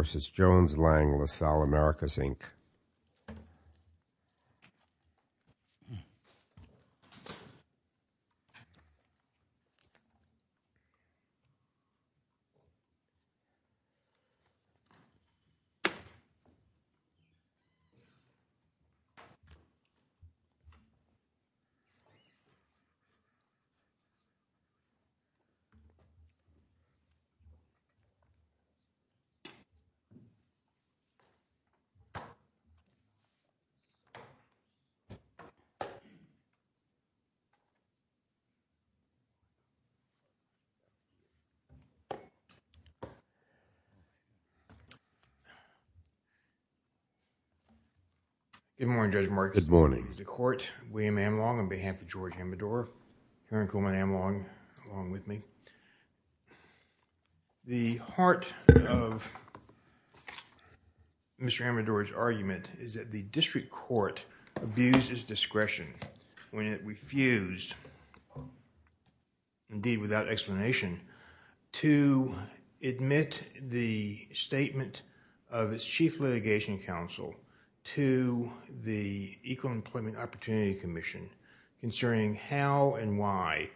v. Jones Lang LaSalle Americas, Inc. Good morning, Judge Marcus. Good morning, Mr. Court. William Amlong, on behalf of George Amador. Mr. Amador's argument is that the District Court abused its discretion when it refused, indeed without explanation, to admit the statement of its Chief Litigation Counsel to the Equal Employment Opportunity Commission concerning how and why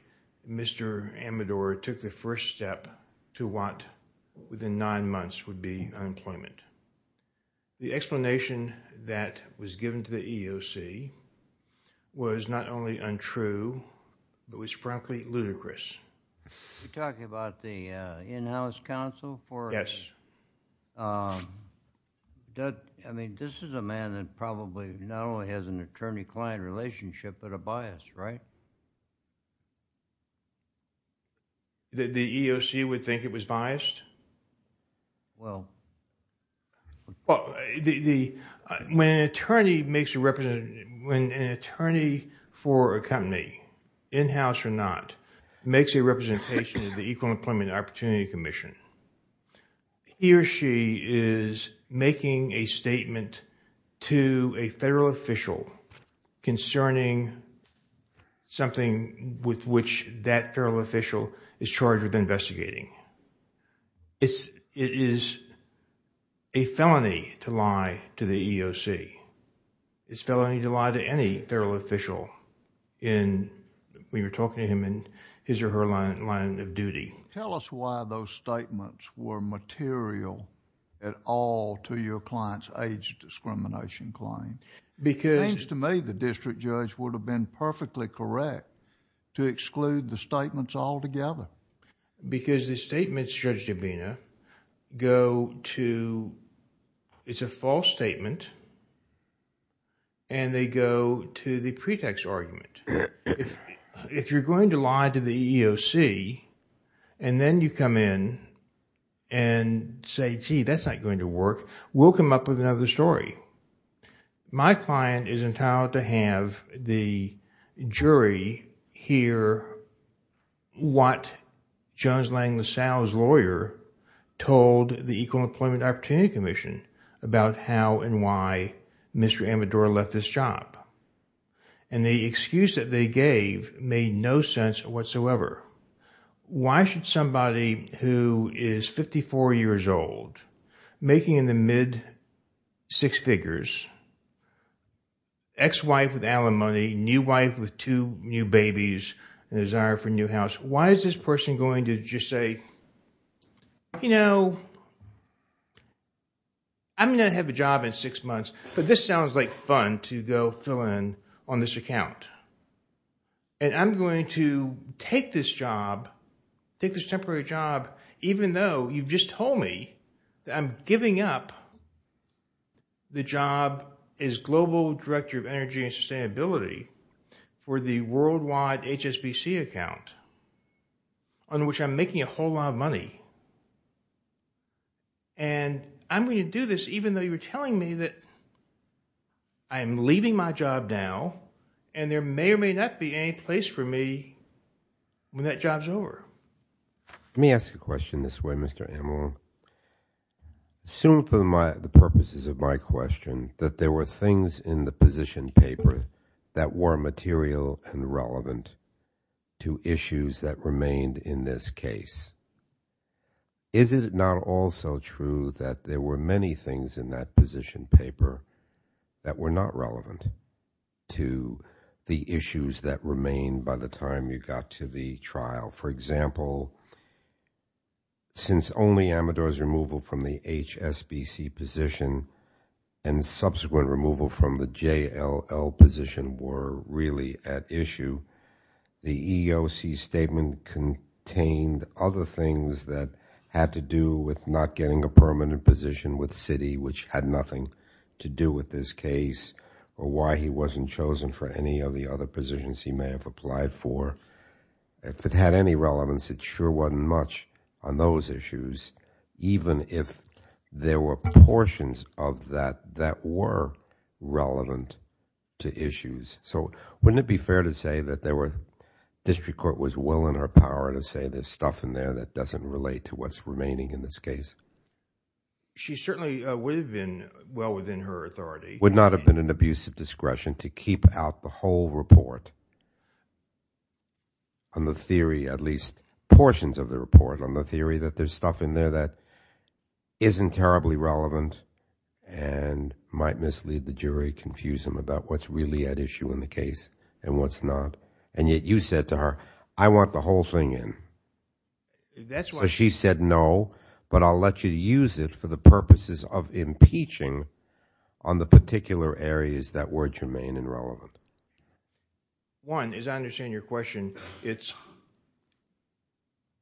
Mr. Amador took the first step to what within nine months would be unemployment. The explanation that was given to the EEOC was not only untrue, but was frankly ludicrous. Are you talking about the in-house counsel? Yes. I mean, this is a man that probably not only has an attorney-client relationship, but a lawyer. The EEOC would think it was biased? Well, when an attorney for a company, in-house or not, makes a representation to the Equal Employment Opportunity Commission, he or she is making a statement to a federal official concerning something with which that federal official is charged with investigating. It is a felony to lie to the EEOC. It's felony to lie to any federal official in, we were talking to him in his or her line of duty. Tell us why those statements were material at all to your client's age discrimination claim. It seems to me the district judge would have been perfectly correct to exclude the statements altogether. Because the statements, Judge Dabena, go to... it's a false statement and they go to the pretext argument. If you're going to lie to the EEOC, and then you come in and say, gee, that's not going to work, we'll come up with another story. My client is entitled to have the jury hear what Jones Lang LaSalle's lawyer told the Equal Employment Opportunity Commission about how and why Mr. Amador left his job. And the excuse that they gave made no sense whatsoever. Why should somebody who is 54 years old, making in the mid six figures, ex-wife with Allen Money, new wife with two new babies, and desire for a new house, why is this person going to just say, you know, I'm going to have a job in six months, but this sounds like fun to go fill in on this account. And I'm going to take this job, take this temporary job, even though you've just told me that I'm giving up the job as Global Director of Energy and Sustainability for the worldwide HSBC account, on which I'm making a whole lot of money. And I'm going to do this even though you're telling me that I'm leaving my job now, and there may or may not be any place for me when that job's over. Let me ask a question this way, Mr. Amador. Assume for the purposes of my question that there were things in the position paper that were material and relevant to issues that remained in this case. Is it not also true that there were many things in that position paper that were not relevant to the issues that remained by the time you got to the trial? For example, since only Amador's removal from the HSBC position and subsequent removal from the JLL position were really at issue, the EEOC statement contained other things that had to do with not getting a permanent position with Citi, which had nothing to do with this case, or why he wasn't chosen for any of the other positions he may have applied for. If it had any relevance, it sure wasn't much on those issues, even if there were portions of that that were relevant to issues. So wouldn't it be fair to say that there were, District Court was willing or power to say there's stuff in there that doesn't relate to what's remaining in this case? She certainly would have been well within her authority. Would not have been an abuse of discretion to keep out the whole report on the theory, at least portions of the report, on the theory that there's stuff in there that isn't terribly relevant and might mislead the jury, confuse them about what's really at issue in the case and what's not. And yet you said to her, I want the whole thing in. So she said, no, but I'll let you use it for the purposes of impeaching on the particular areas that were germane and relevant. One, as I understand your question,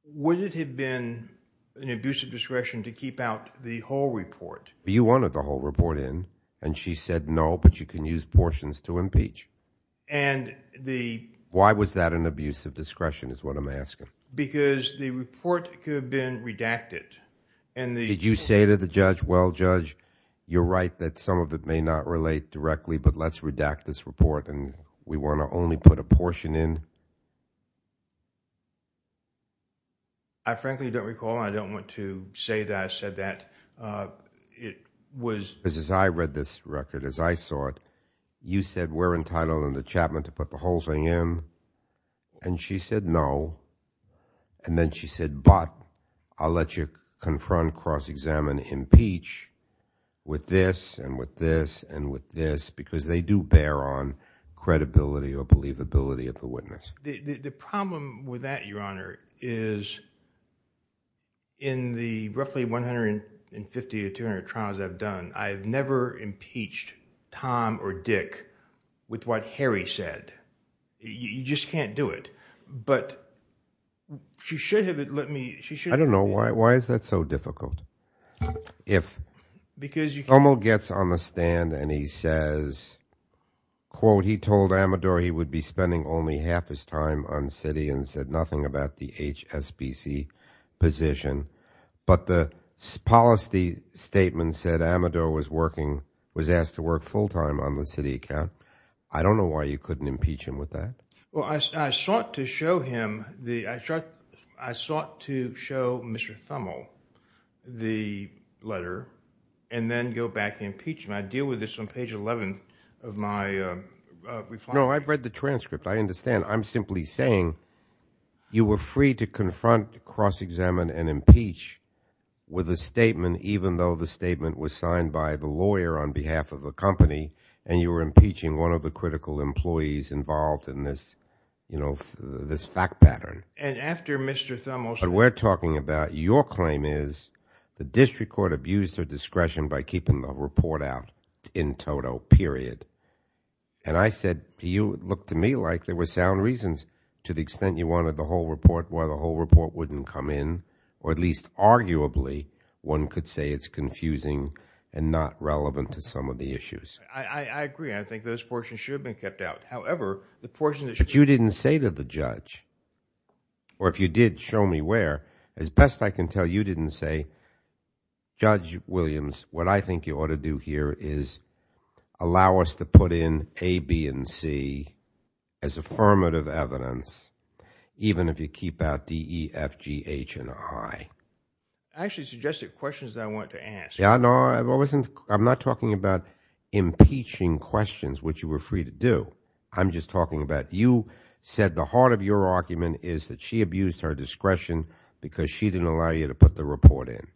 would it have been an abuse of discretion to keep out the whole report? You wanted the whole report in, and she said no, but you can use portions to impeach. Why was that an abuse of discretion is what I'm asking. Because the report could have been redacted. Did you say to the judge, well, judge, you're right that some of it may not relate directly, but let's redact this report, and we want to only put a portion in? I frankly don't recall, and I don't want to say that I said that. Because as I read this record, as I saw it, you said we're entitled under Chapman to put the whole thing in, and she said no, and then she said, but I'll let you confront, cross-examine, impeach with this, and with this, and with this. Because they do bear on credibility or believability of the witness. The problem with that, your honor, is in the roughly 150 or 200 trials I've done, I've never impeached Tom or Dick with what Harry said. You just can't do it. But she should have let me. I don't know. Why is that so difficult? If Cuomo gets on the stand, and he says, quote, he told Amador he would be spending only half his time on Citi, and said nothing about the HSBC position. But the policy statement said Amador was working, was asked to work full-time on the Citi account. I don't know why you couldn't impeach him with that. Well, I sought to show him, I sought to show Mr. Thummel the letter, and then go back and impeach him. I deal with this on page 11 of my reflection. No, I've read the transcript. I understand. I'm simply saying you were free to confront, cross-examine, and impeach with a statement, even though the statement was signed by the lawyer on behalf of the company, and you were impeaching one of the critical employees involved in this, you know, this fact pattern. And after Mr. Thummel... But we're talking about your claim is the district court abused her discretion by keeping the report out in toto, period. And I said to you, it looked to me like there were sound reasons to the extent you wanted the whole report, why the whole report wouldn't come in, or at least arguably, one could say it's confusing and not relevant to some of the issues. I agree. I think those portions should have been kept out. However, the portion that should... But you didn't say to the judge, or if you did, show me where. As best I can tell, you didn't say, Judge Williams, what I think you ought to do here is allow us to put in A, B, and C as affirmative evidence, even if you keep out D, E, F, G, H, and I. I actually suggested questions that I wanted to ask. Yeah, no, I wasn't... I'm not talking about impeaching questions, which you were free to do. I'm just talking about you said the heart of your argument is that she abused her discretion because she didn't allow you to put the report in.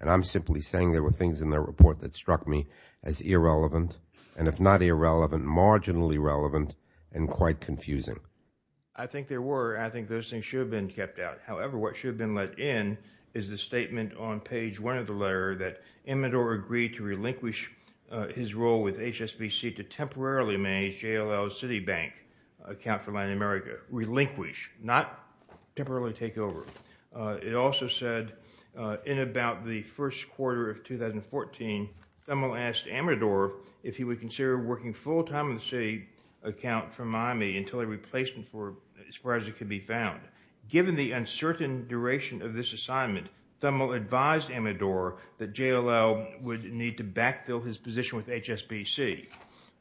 And I'm simply saying there were things in the report that struck me as irrelevant, and if not irrelevant, marginally relevant, and quite confusing. I think there were. I think those things should have been kept out. However, what should have been let in is the statement on page one of the letter that Imador agreed to relinquish his role with HSBC to temporarily manage JLL Citibank, account for Latin America. Relinquish, not temporarily take over. It also said in about the first quarter of 2014, Thummell asked Imador if he would consider working full-time in the city account for Miami until a replacement for, as far as it could be found. Given the uncertain duration of this assignment, Thummell advised Imador that JLL would need to backfill his position with HSBC.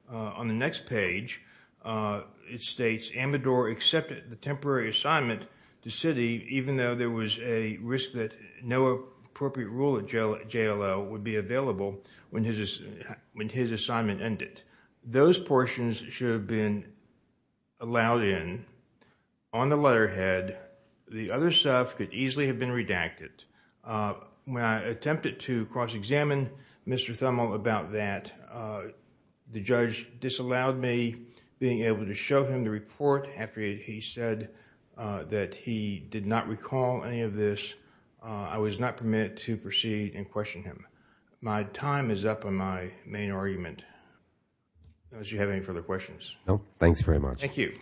On the next page, it states Imador accepted the temporary assignment to city even though there was a risk that no appropriate rule at JLL would be available when his assignment ended. Those portions should have been allowed in. On the letterhead, the other stuff could easily have been redacted. When I attempted to cross-examine Mr. Thummell about that, the judge disallowed me being able to show him the report after he said that he did not recall any of this. I was not permitted to proceed and question him. My time is up on my main argument. I don't know if you have any further questions. Thanks very much. Thank you.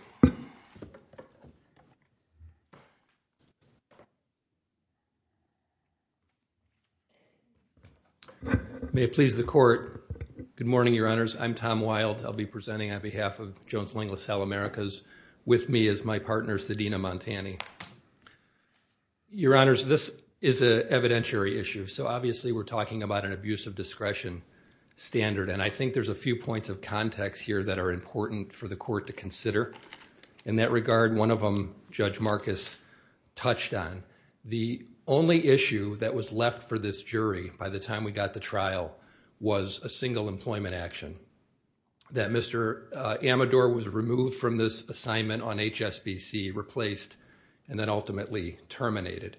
May it please the Court. Good morning, Your Honors. I'm Tom Wild. I'll be presenting on behalf of Jones-Ling, LaSalle Americas. With me is my partner, Sadina Montani. Your Honors, this is an evidentiary issue. So obviously, we're talking about an abuse of discretion standard and I think there's a few points of context here that are important for the Court to consider. In that regard, one of them Judge Marcus touched on. The only issue that was left for this jury by the time we got the trial was a single employment action that Mr. Amador was removed from this assignment on HSBC, replaced, and then ultimately terminated.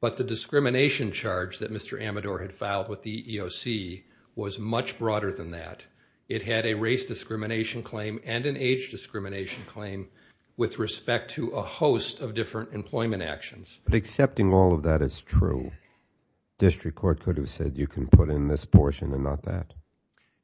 But the discrimination charge that Mr. Amador had filed with the EEOC was much broader than that. It had a race discrimination claim and an age discrimination claim with respect to a host of different employment actions. But accepting all of that is true. District Court could have said you can put in this portion and not that.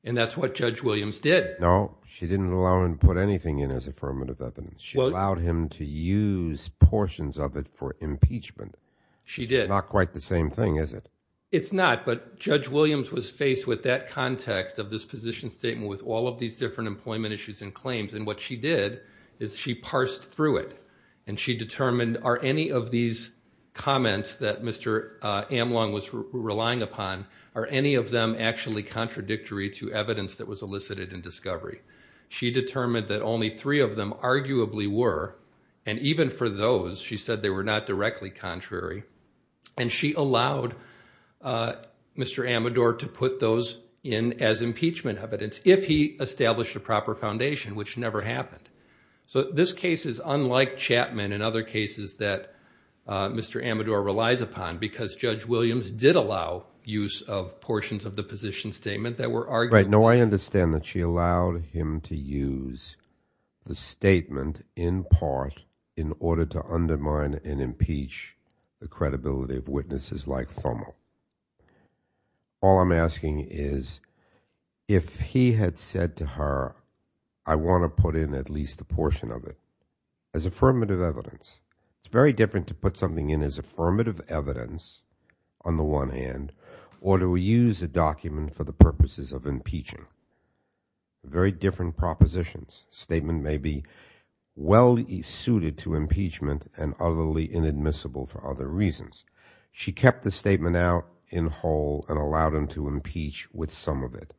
And that's what Judge Williams did. No, she didn't allow him to put anything in as affirmative evidence. She allowed him to use portions of it for impeachment. She did. Not quite the same thing, is it? It's not. But Judge Williams was faced with that context of this position statement with all of these different employment issues and claims. And what she did is she parsed through it. And she determined are any of these comments that Mr. Amlong was relying upon, are any of them actually contradictory to evidence that was elicited in discovery? She determined that only three of them arguably were. And even for those, she said they were not directly contrary. And she allowed Mr. Amador to put those in as impeachment evidence if he established a proper foundation, which never happened. So this case is unlike Chapman and other cases that Mr. Amador relies upon because Judge Williams did allow use of portions of the position statement that were argued. Right. No, I understand that she allowed him to use the statement in part in order to undermine and impeach the credibility of witnesses like FOMO. All I'm asking is, if he had said to her, I want to put in at least a portion of it as affirmative evidence. It's very different to put something in as affirmative evidence on the one hand, or to use a document for the purposes of impeachment. Very different propositions. Statement may be well suited to impeachment and utterly inadmissible for other reasons. She kept the statement out in whole and allowed him to impeach with some of it.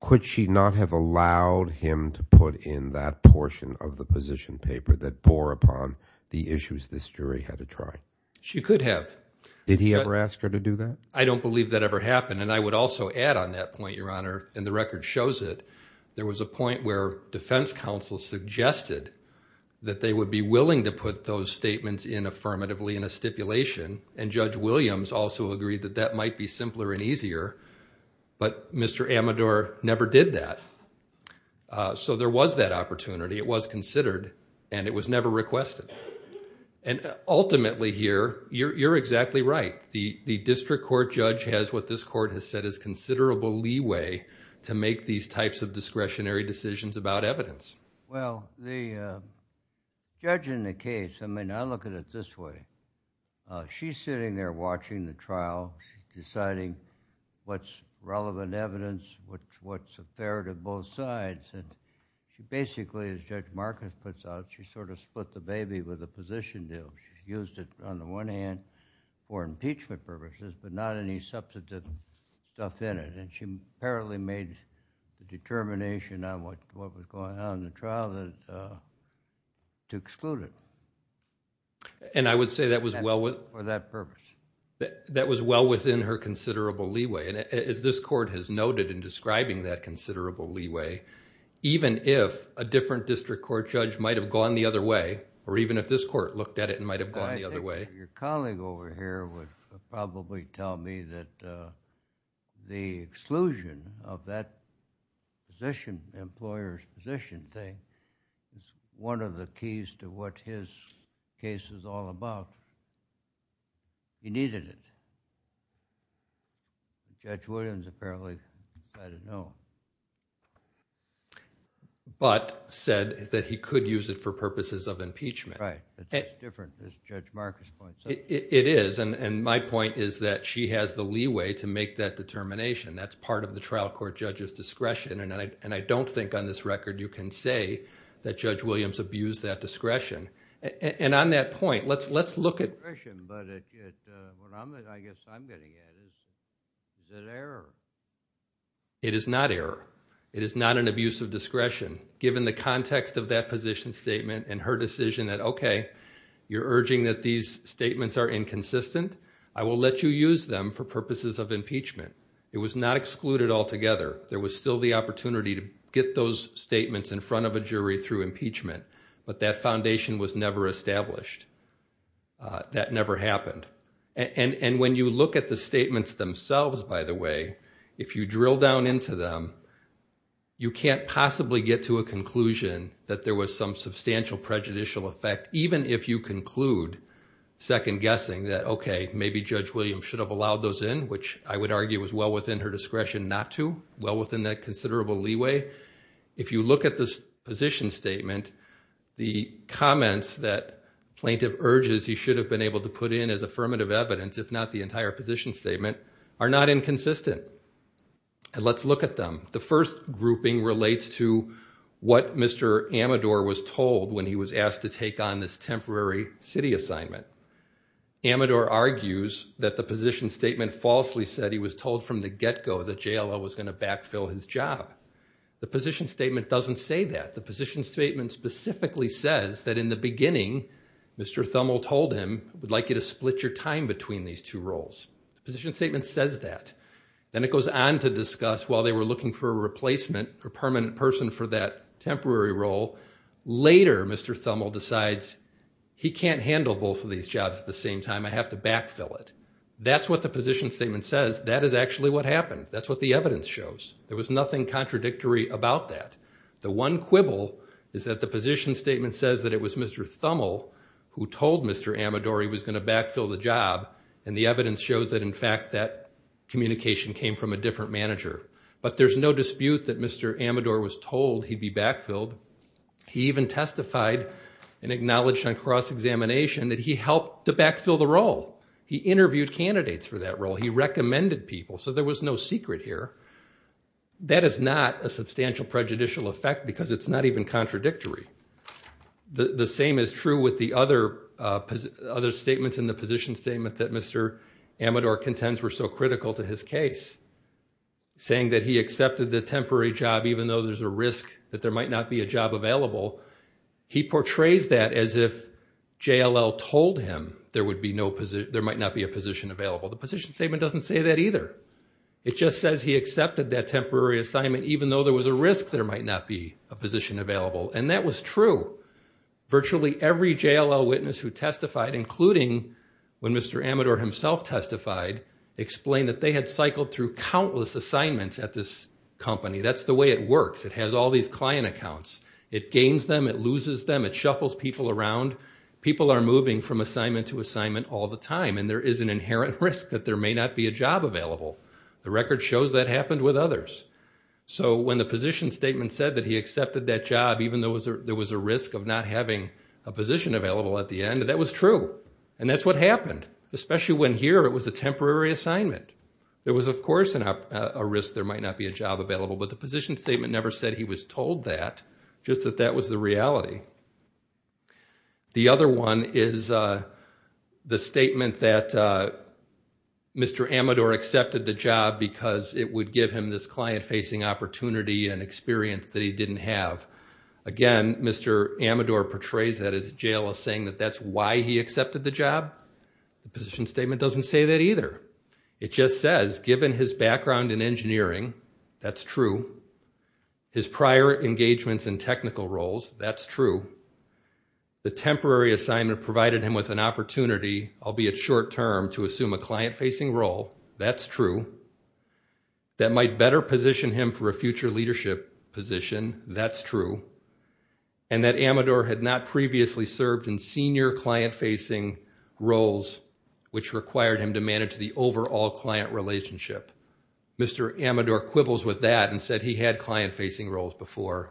Could she not have allowed him to put in that portion of the position paper that bore upon the issues this jury had to try? She could have. Did he ever ask her to do that? I don't believe that ever happened. And I would also add on that point, Your Honor, and the record shows it. There was a point where defense counsel suggested that they would be willing to put those statements in affirmatively in a stipulation. And Judge Williams also agreed that that might be simpler and easier. But Mr. Amador never did that. So there was that opportunity. It was considered and it was never requested. And ultimately here, you're exactly right. The district court judge has what this court has said is considerable leeway to make these types of discretionary decisions about evidence. Well, the judge in the case, I mean, I look at it this way, she's sitting there watching the trial, deciding what's relevant evidence, what's fair to both sides. And basically, as Judge Marcus puts out, she sort of split the baby with the position deal. She used it on the one hand for impeachment purposes, but not any substantive stuff in it. And she apparently made a determination on what was going on in the trial to exclude it. And I would say that was well... For that purpose. That was well within her considerable leeway. And as this court has noted in describing that considerable leeway, even if a different district court judge might have gone the other way, or even if this court looked at it and might have gone the other way... The exclusion of that position, employer's position thing, is one of the keys to what his case is all about. He needed it. Judge Williams apparently let it know. But said that he could use it for purposes of impeachment. Right. It's different, as Judge Marcus points out. It is. And my point is that she has the leeway to make that determination. That's part of the trial court judge's discretion. And I don't think on this record you can say that Judge Williams abused that discretion. And on that point, let's look at... Discretion. But what I guess I'm getting at is that error. It is not error. It is not an abuse of discretion. These statements are inconsistent. I will let you use them for purposes of impeachment. It was not excluded altogether. There was still the opportunity to get those statements in front of a jury through impeachment. But that foundation was never established. That never happened. And when you look at the statements themselves, by the way, if you drill down into them, you can't possibly get to a conclusion that there was some substantial prejudicial effect, even if you conclude second-guessing that, okay, maybe Judge Williams should have allowed those in, which I would argue was well within her discretion not to, well within that considerable leeway. If you look at this position statement, the comments that plaintiff urges he should have been able to put in as affirmative evidence, if not the entire position statement, are not inconsistent. And let's look at them. The first grouping relates to what Mr. Amador was told when he was asked to take on this temporary city assignment. Amador argues that the position statement falsely said he was told from the get-go that JLL was going to backfill his job. The position statement doesn't say that. The position statement specifically says that in the beginning, Mr. Thummell told him, we'd like you to split your time between these two roles. The position statement says that. Then it goes on to discuss while they were looking for a replacement, a permanent person for that temporary role, later Mr. Thummell decides he can't handle both of these jobs at the same time. I have to backfill it. That's what the position statement says. That is actually what happened. That's what the evidence shows. There was nothing contradictory about that. The one quibble is that the position statement says that it was Mr. Thummell who told Mr. Amador he was going to backfill the job, and the evidence shows that in fact that communication came from a different manager. But there's no dispute that Mr. Amador was told he'd be backfilled. He even testified and acknowledged on cross-examination that he helped to backfill the role. He interviewed candidates for that role. He recommended people. There was no secret here. That is not a substantial prejudicial effect because it's not even contradictory. The same is true with the other statements in the position statement that Mr. Amador contends were so critical to his case, saying that he accepted the temporary job, even though there's a risk that there might not be a job available. He portrays that as if JLL told him there might not be a position available. The position statement doesn't say that either. It just says he accepted that temporary assignment, even though there was a risk there might not be a position available. And that was true. Virtually every JLL witness who testified, including when Mr. Amador himself testified, explained that they had cycled through countless assignments at this company. That's the way it works. It has all these client accounts. It gains them. It loses them. It shuffles people around. People are moving from assignment to assignment all the time. And there is an inherent risk that there may not be a job available. The record shows that happened with others. So when the position statement said that he accepted that job, even though there was a risk of not having a position available at the end, that was true. And that's what happened, especially when here it was a temporary assignment. There was, of course, a risk there might not be a job available. But the position statement never said he was told that, just that that was the reality. The other one is the statement that Mr. Amador accepted the job because it would give him this client-facing opportunity and experience that he didn't have. Again, Mr. Amador portrays that as a JLS saying that that's why he accepted the job. The position statement doesn't say that either. It just says given his background in engineering, that's true. His prior engagements in technical roles, that's true. The temporary assignment provided him with an opportunity, albeit short-term, to assume a client-facing role. That's true. That might better position him for a future leadership position. That's true. And that Amador had not previously served in senior client-facing roles, which required him to manage the overall client relationship. Mr. Amador quibbles with that and said he had client-facing roles before.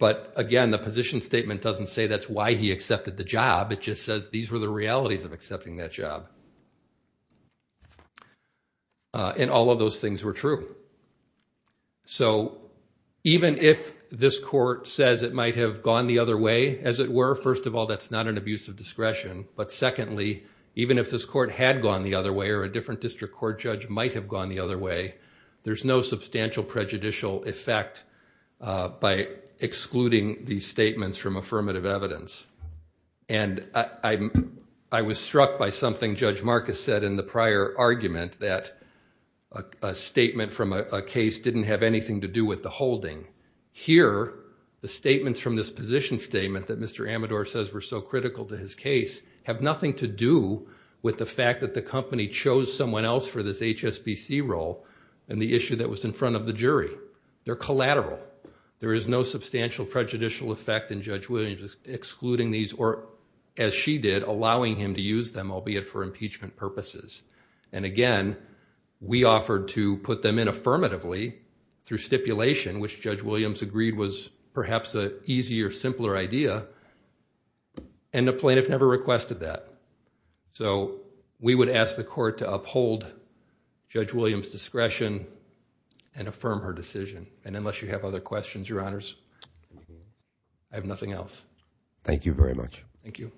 But again, the position statement doesn't say that's why he accepted the job. It just says these were the realities of accepting that job. And all of those things were true. So even if this court says it might have gone the other way, as it were, first of all, that's not an abuse of discretion. But secondly, even if this court had gone the other way or a different district court judge might have gone the other way, there's no substantial prejudicial effect by excluding these statements from affirmative evidence. And I was struck by something Judge Marcus said in the prior argument, that a statement from a case didn't have anything to do with the holding. Here, the statements from this position statement that Mr. Amador says were so critical to his case have nothing to do with the fact that the company chose someone else for this HSBC role in the issue that was in front of the jury. They're collateral. There is no substantial prejudicial effect in Judge Williams excluding these or, as she did, allowing him to use them, albeit for impeachment purposes. And again, we offered to put them in affirmatively through stipulation, which Judge Williams agreed was perhaps an easier, simpler idea. And the plaintiff never requested that. So we would ask the court to uphold Judge Williams' discretion and affirm her decision. And unless you have other questions, Your Honors, I have nothing else. Thank you very much. Thank you.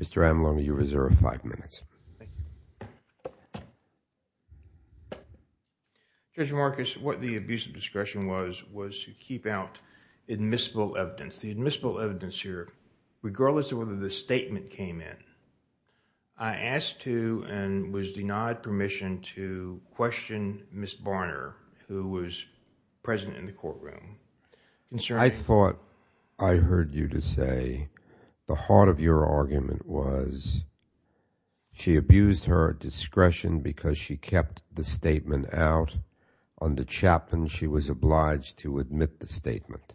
Mr. Amador, you have a reserve of five minutes. Thank you. Judge Marcus, what the abuse of discretion was, was to keep out admissible evidence. The admissible evidence here, regardless of whether the statement came in, I asked to and was denied permission to question Ms. Barner, who was present in the courtroom. I thought I heard you to say the heart of your argument was she abused her discretion because she kept the statement out. Under Chapman, she was obliged to admit the statement.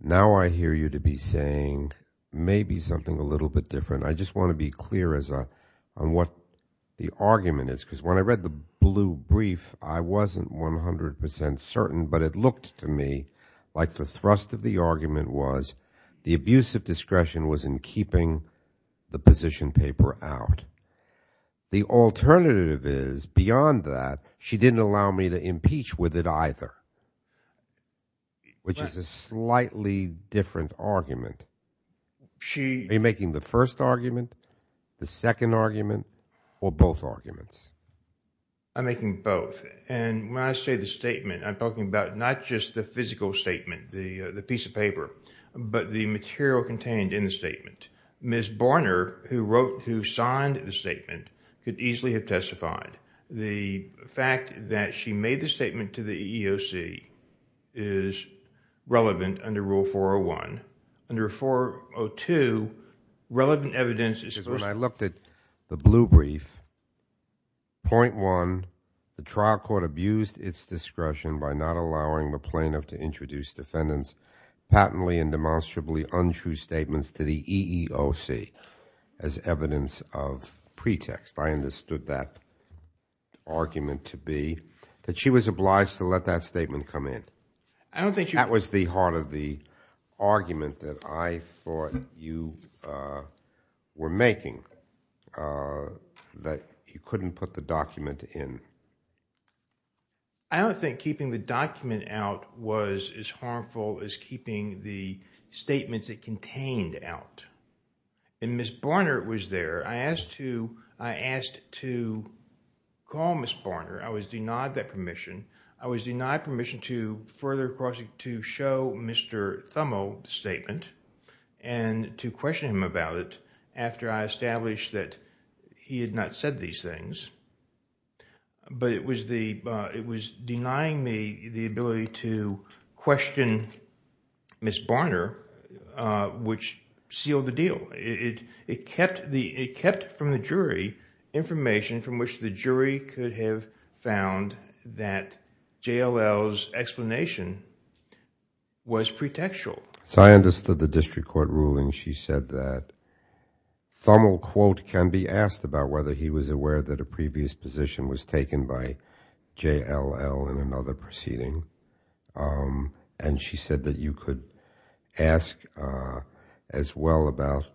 Now I hear you to be saying maybe something a little bit different. I just want to be clear as on what the argument is, because when I read the blue brief, I wasn't 100 percent certain, but it looked to me like the thrust of the argument was the abuse of discretion was in keeping the position paper out. The alternative is beyond that, she didn't allow me to impeach with it either, which is a slightly different argument. Are you making the first argument, the second argument, or both arguments? I'm making both. And when I say the statement, I'm talking about not just the physical statement, the piece of paper, but the material contained in the statement. Ms. Barner, who signed the statement, could easily have testified. The fact that she made the statement to the EEOC is relevant under Rule 401. Under 402, relevant evidence is supposed to- When I looked at the blue brief, point one, the trial court abused its discretion by not allowing the plaintiff to introduce defendants patently and demonstrably untrue statements to the EEOC as evidence of pretext. I understood that argument to be that she was obliged to let that statement come in. I don't think you- That was the heart of the argument that I thought you were making, that you couldn't put the document in. I don't think keeping the document out was as harmful as keeping the statements it contained out. And Ms. Barner was there. I asked to- I asked to call Ms. Barner. I was denied that permission. I was denied permission to further cross- to show Mr. Thummel the statement and to question him about it after I established that he had not said these things. But it was the- it was denying me the ability to question Ms. Barner, which sealed the deal. It- it kept the- it kept from the jury information from which the jury could have found that JLL's explanation was pretextual. So I understood the district court ruling. She said that Thummel, quote, can be asked about whether he was aware that a pretextual position was taken by JLL in another proceeding. And she said that you could ask as well about,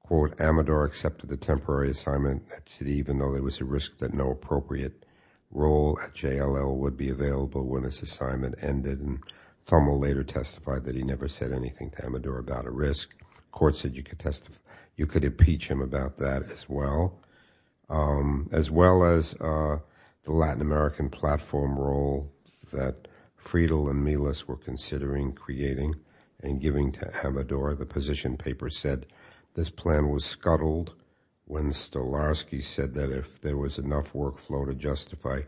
quote, Amador accepted the temporary assignment at Citi even though there was a risk that no appropriate role at JLL would be available when this assignment ended. And Thummel later testified that he never said anything to Amador about a risk. Court said you could test- you could impeach him about that as well. Um, as well as, uh, the Latin American platform role that Friedel and Milas were considering creating and giving to Amador, the position paper said this plan was scuttled when Stolarski said that if there was enough workflow to justify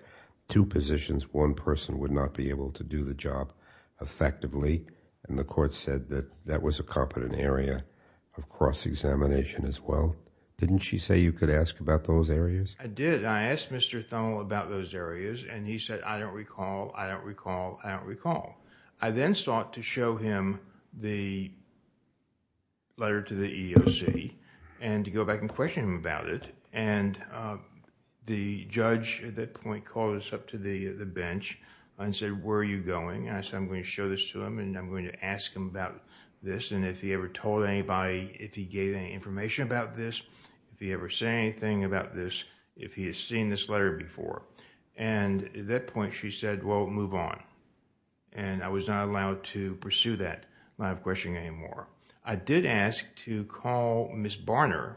two positions, one person would not be able to do the job effectively. And the court said that that was a competent area of cross-examination as well. Didn't she say you could ask about those areas? I did. I asked Mr. Thummel about those areas and he said, I don't recall, I don't recall, I don't recall. I then sought to show him the letter to the EEOC and to go back and question him about it and, uh, the judge at that point called us up to the bench and said, where are you going? And I said, I'm going to show this to him and I'm going to ask him about this and if he ever told anybody, if he gave any information about this, if he ever said anything about this, if he has seen this letter before. And at that point she said, well, move on. And I was not allowed to pursue that line of questioning anymore. I did ask to call Ms. Barner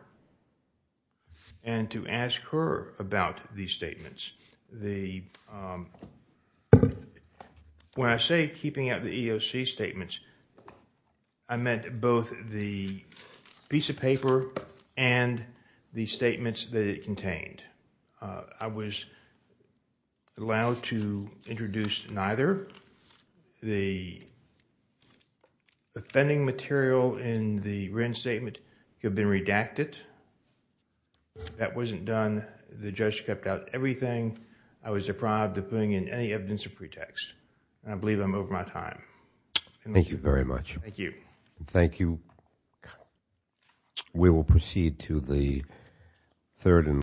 and to ask her about these statements. The, um, when I say keeping out the EEOC statements, I meant both the piece of paper and the statements that it contained. I was allowed to introduce neither. The defending material in the Wren statement had been redacted. That wasn't done. The judge kept out everything. I was deprived of putting in any evidence or pretext. And I believe I'm over my time. Thank you very much. Thank you. Thank you. We will proceed to the third and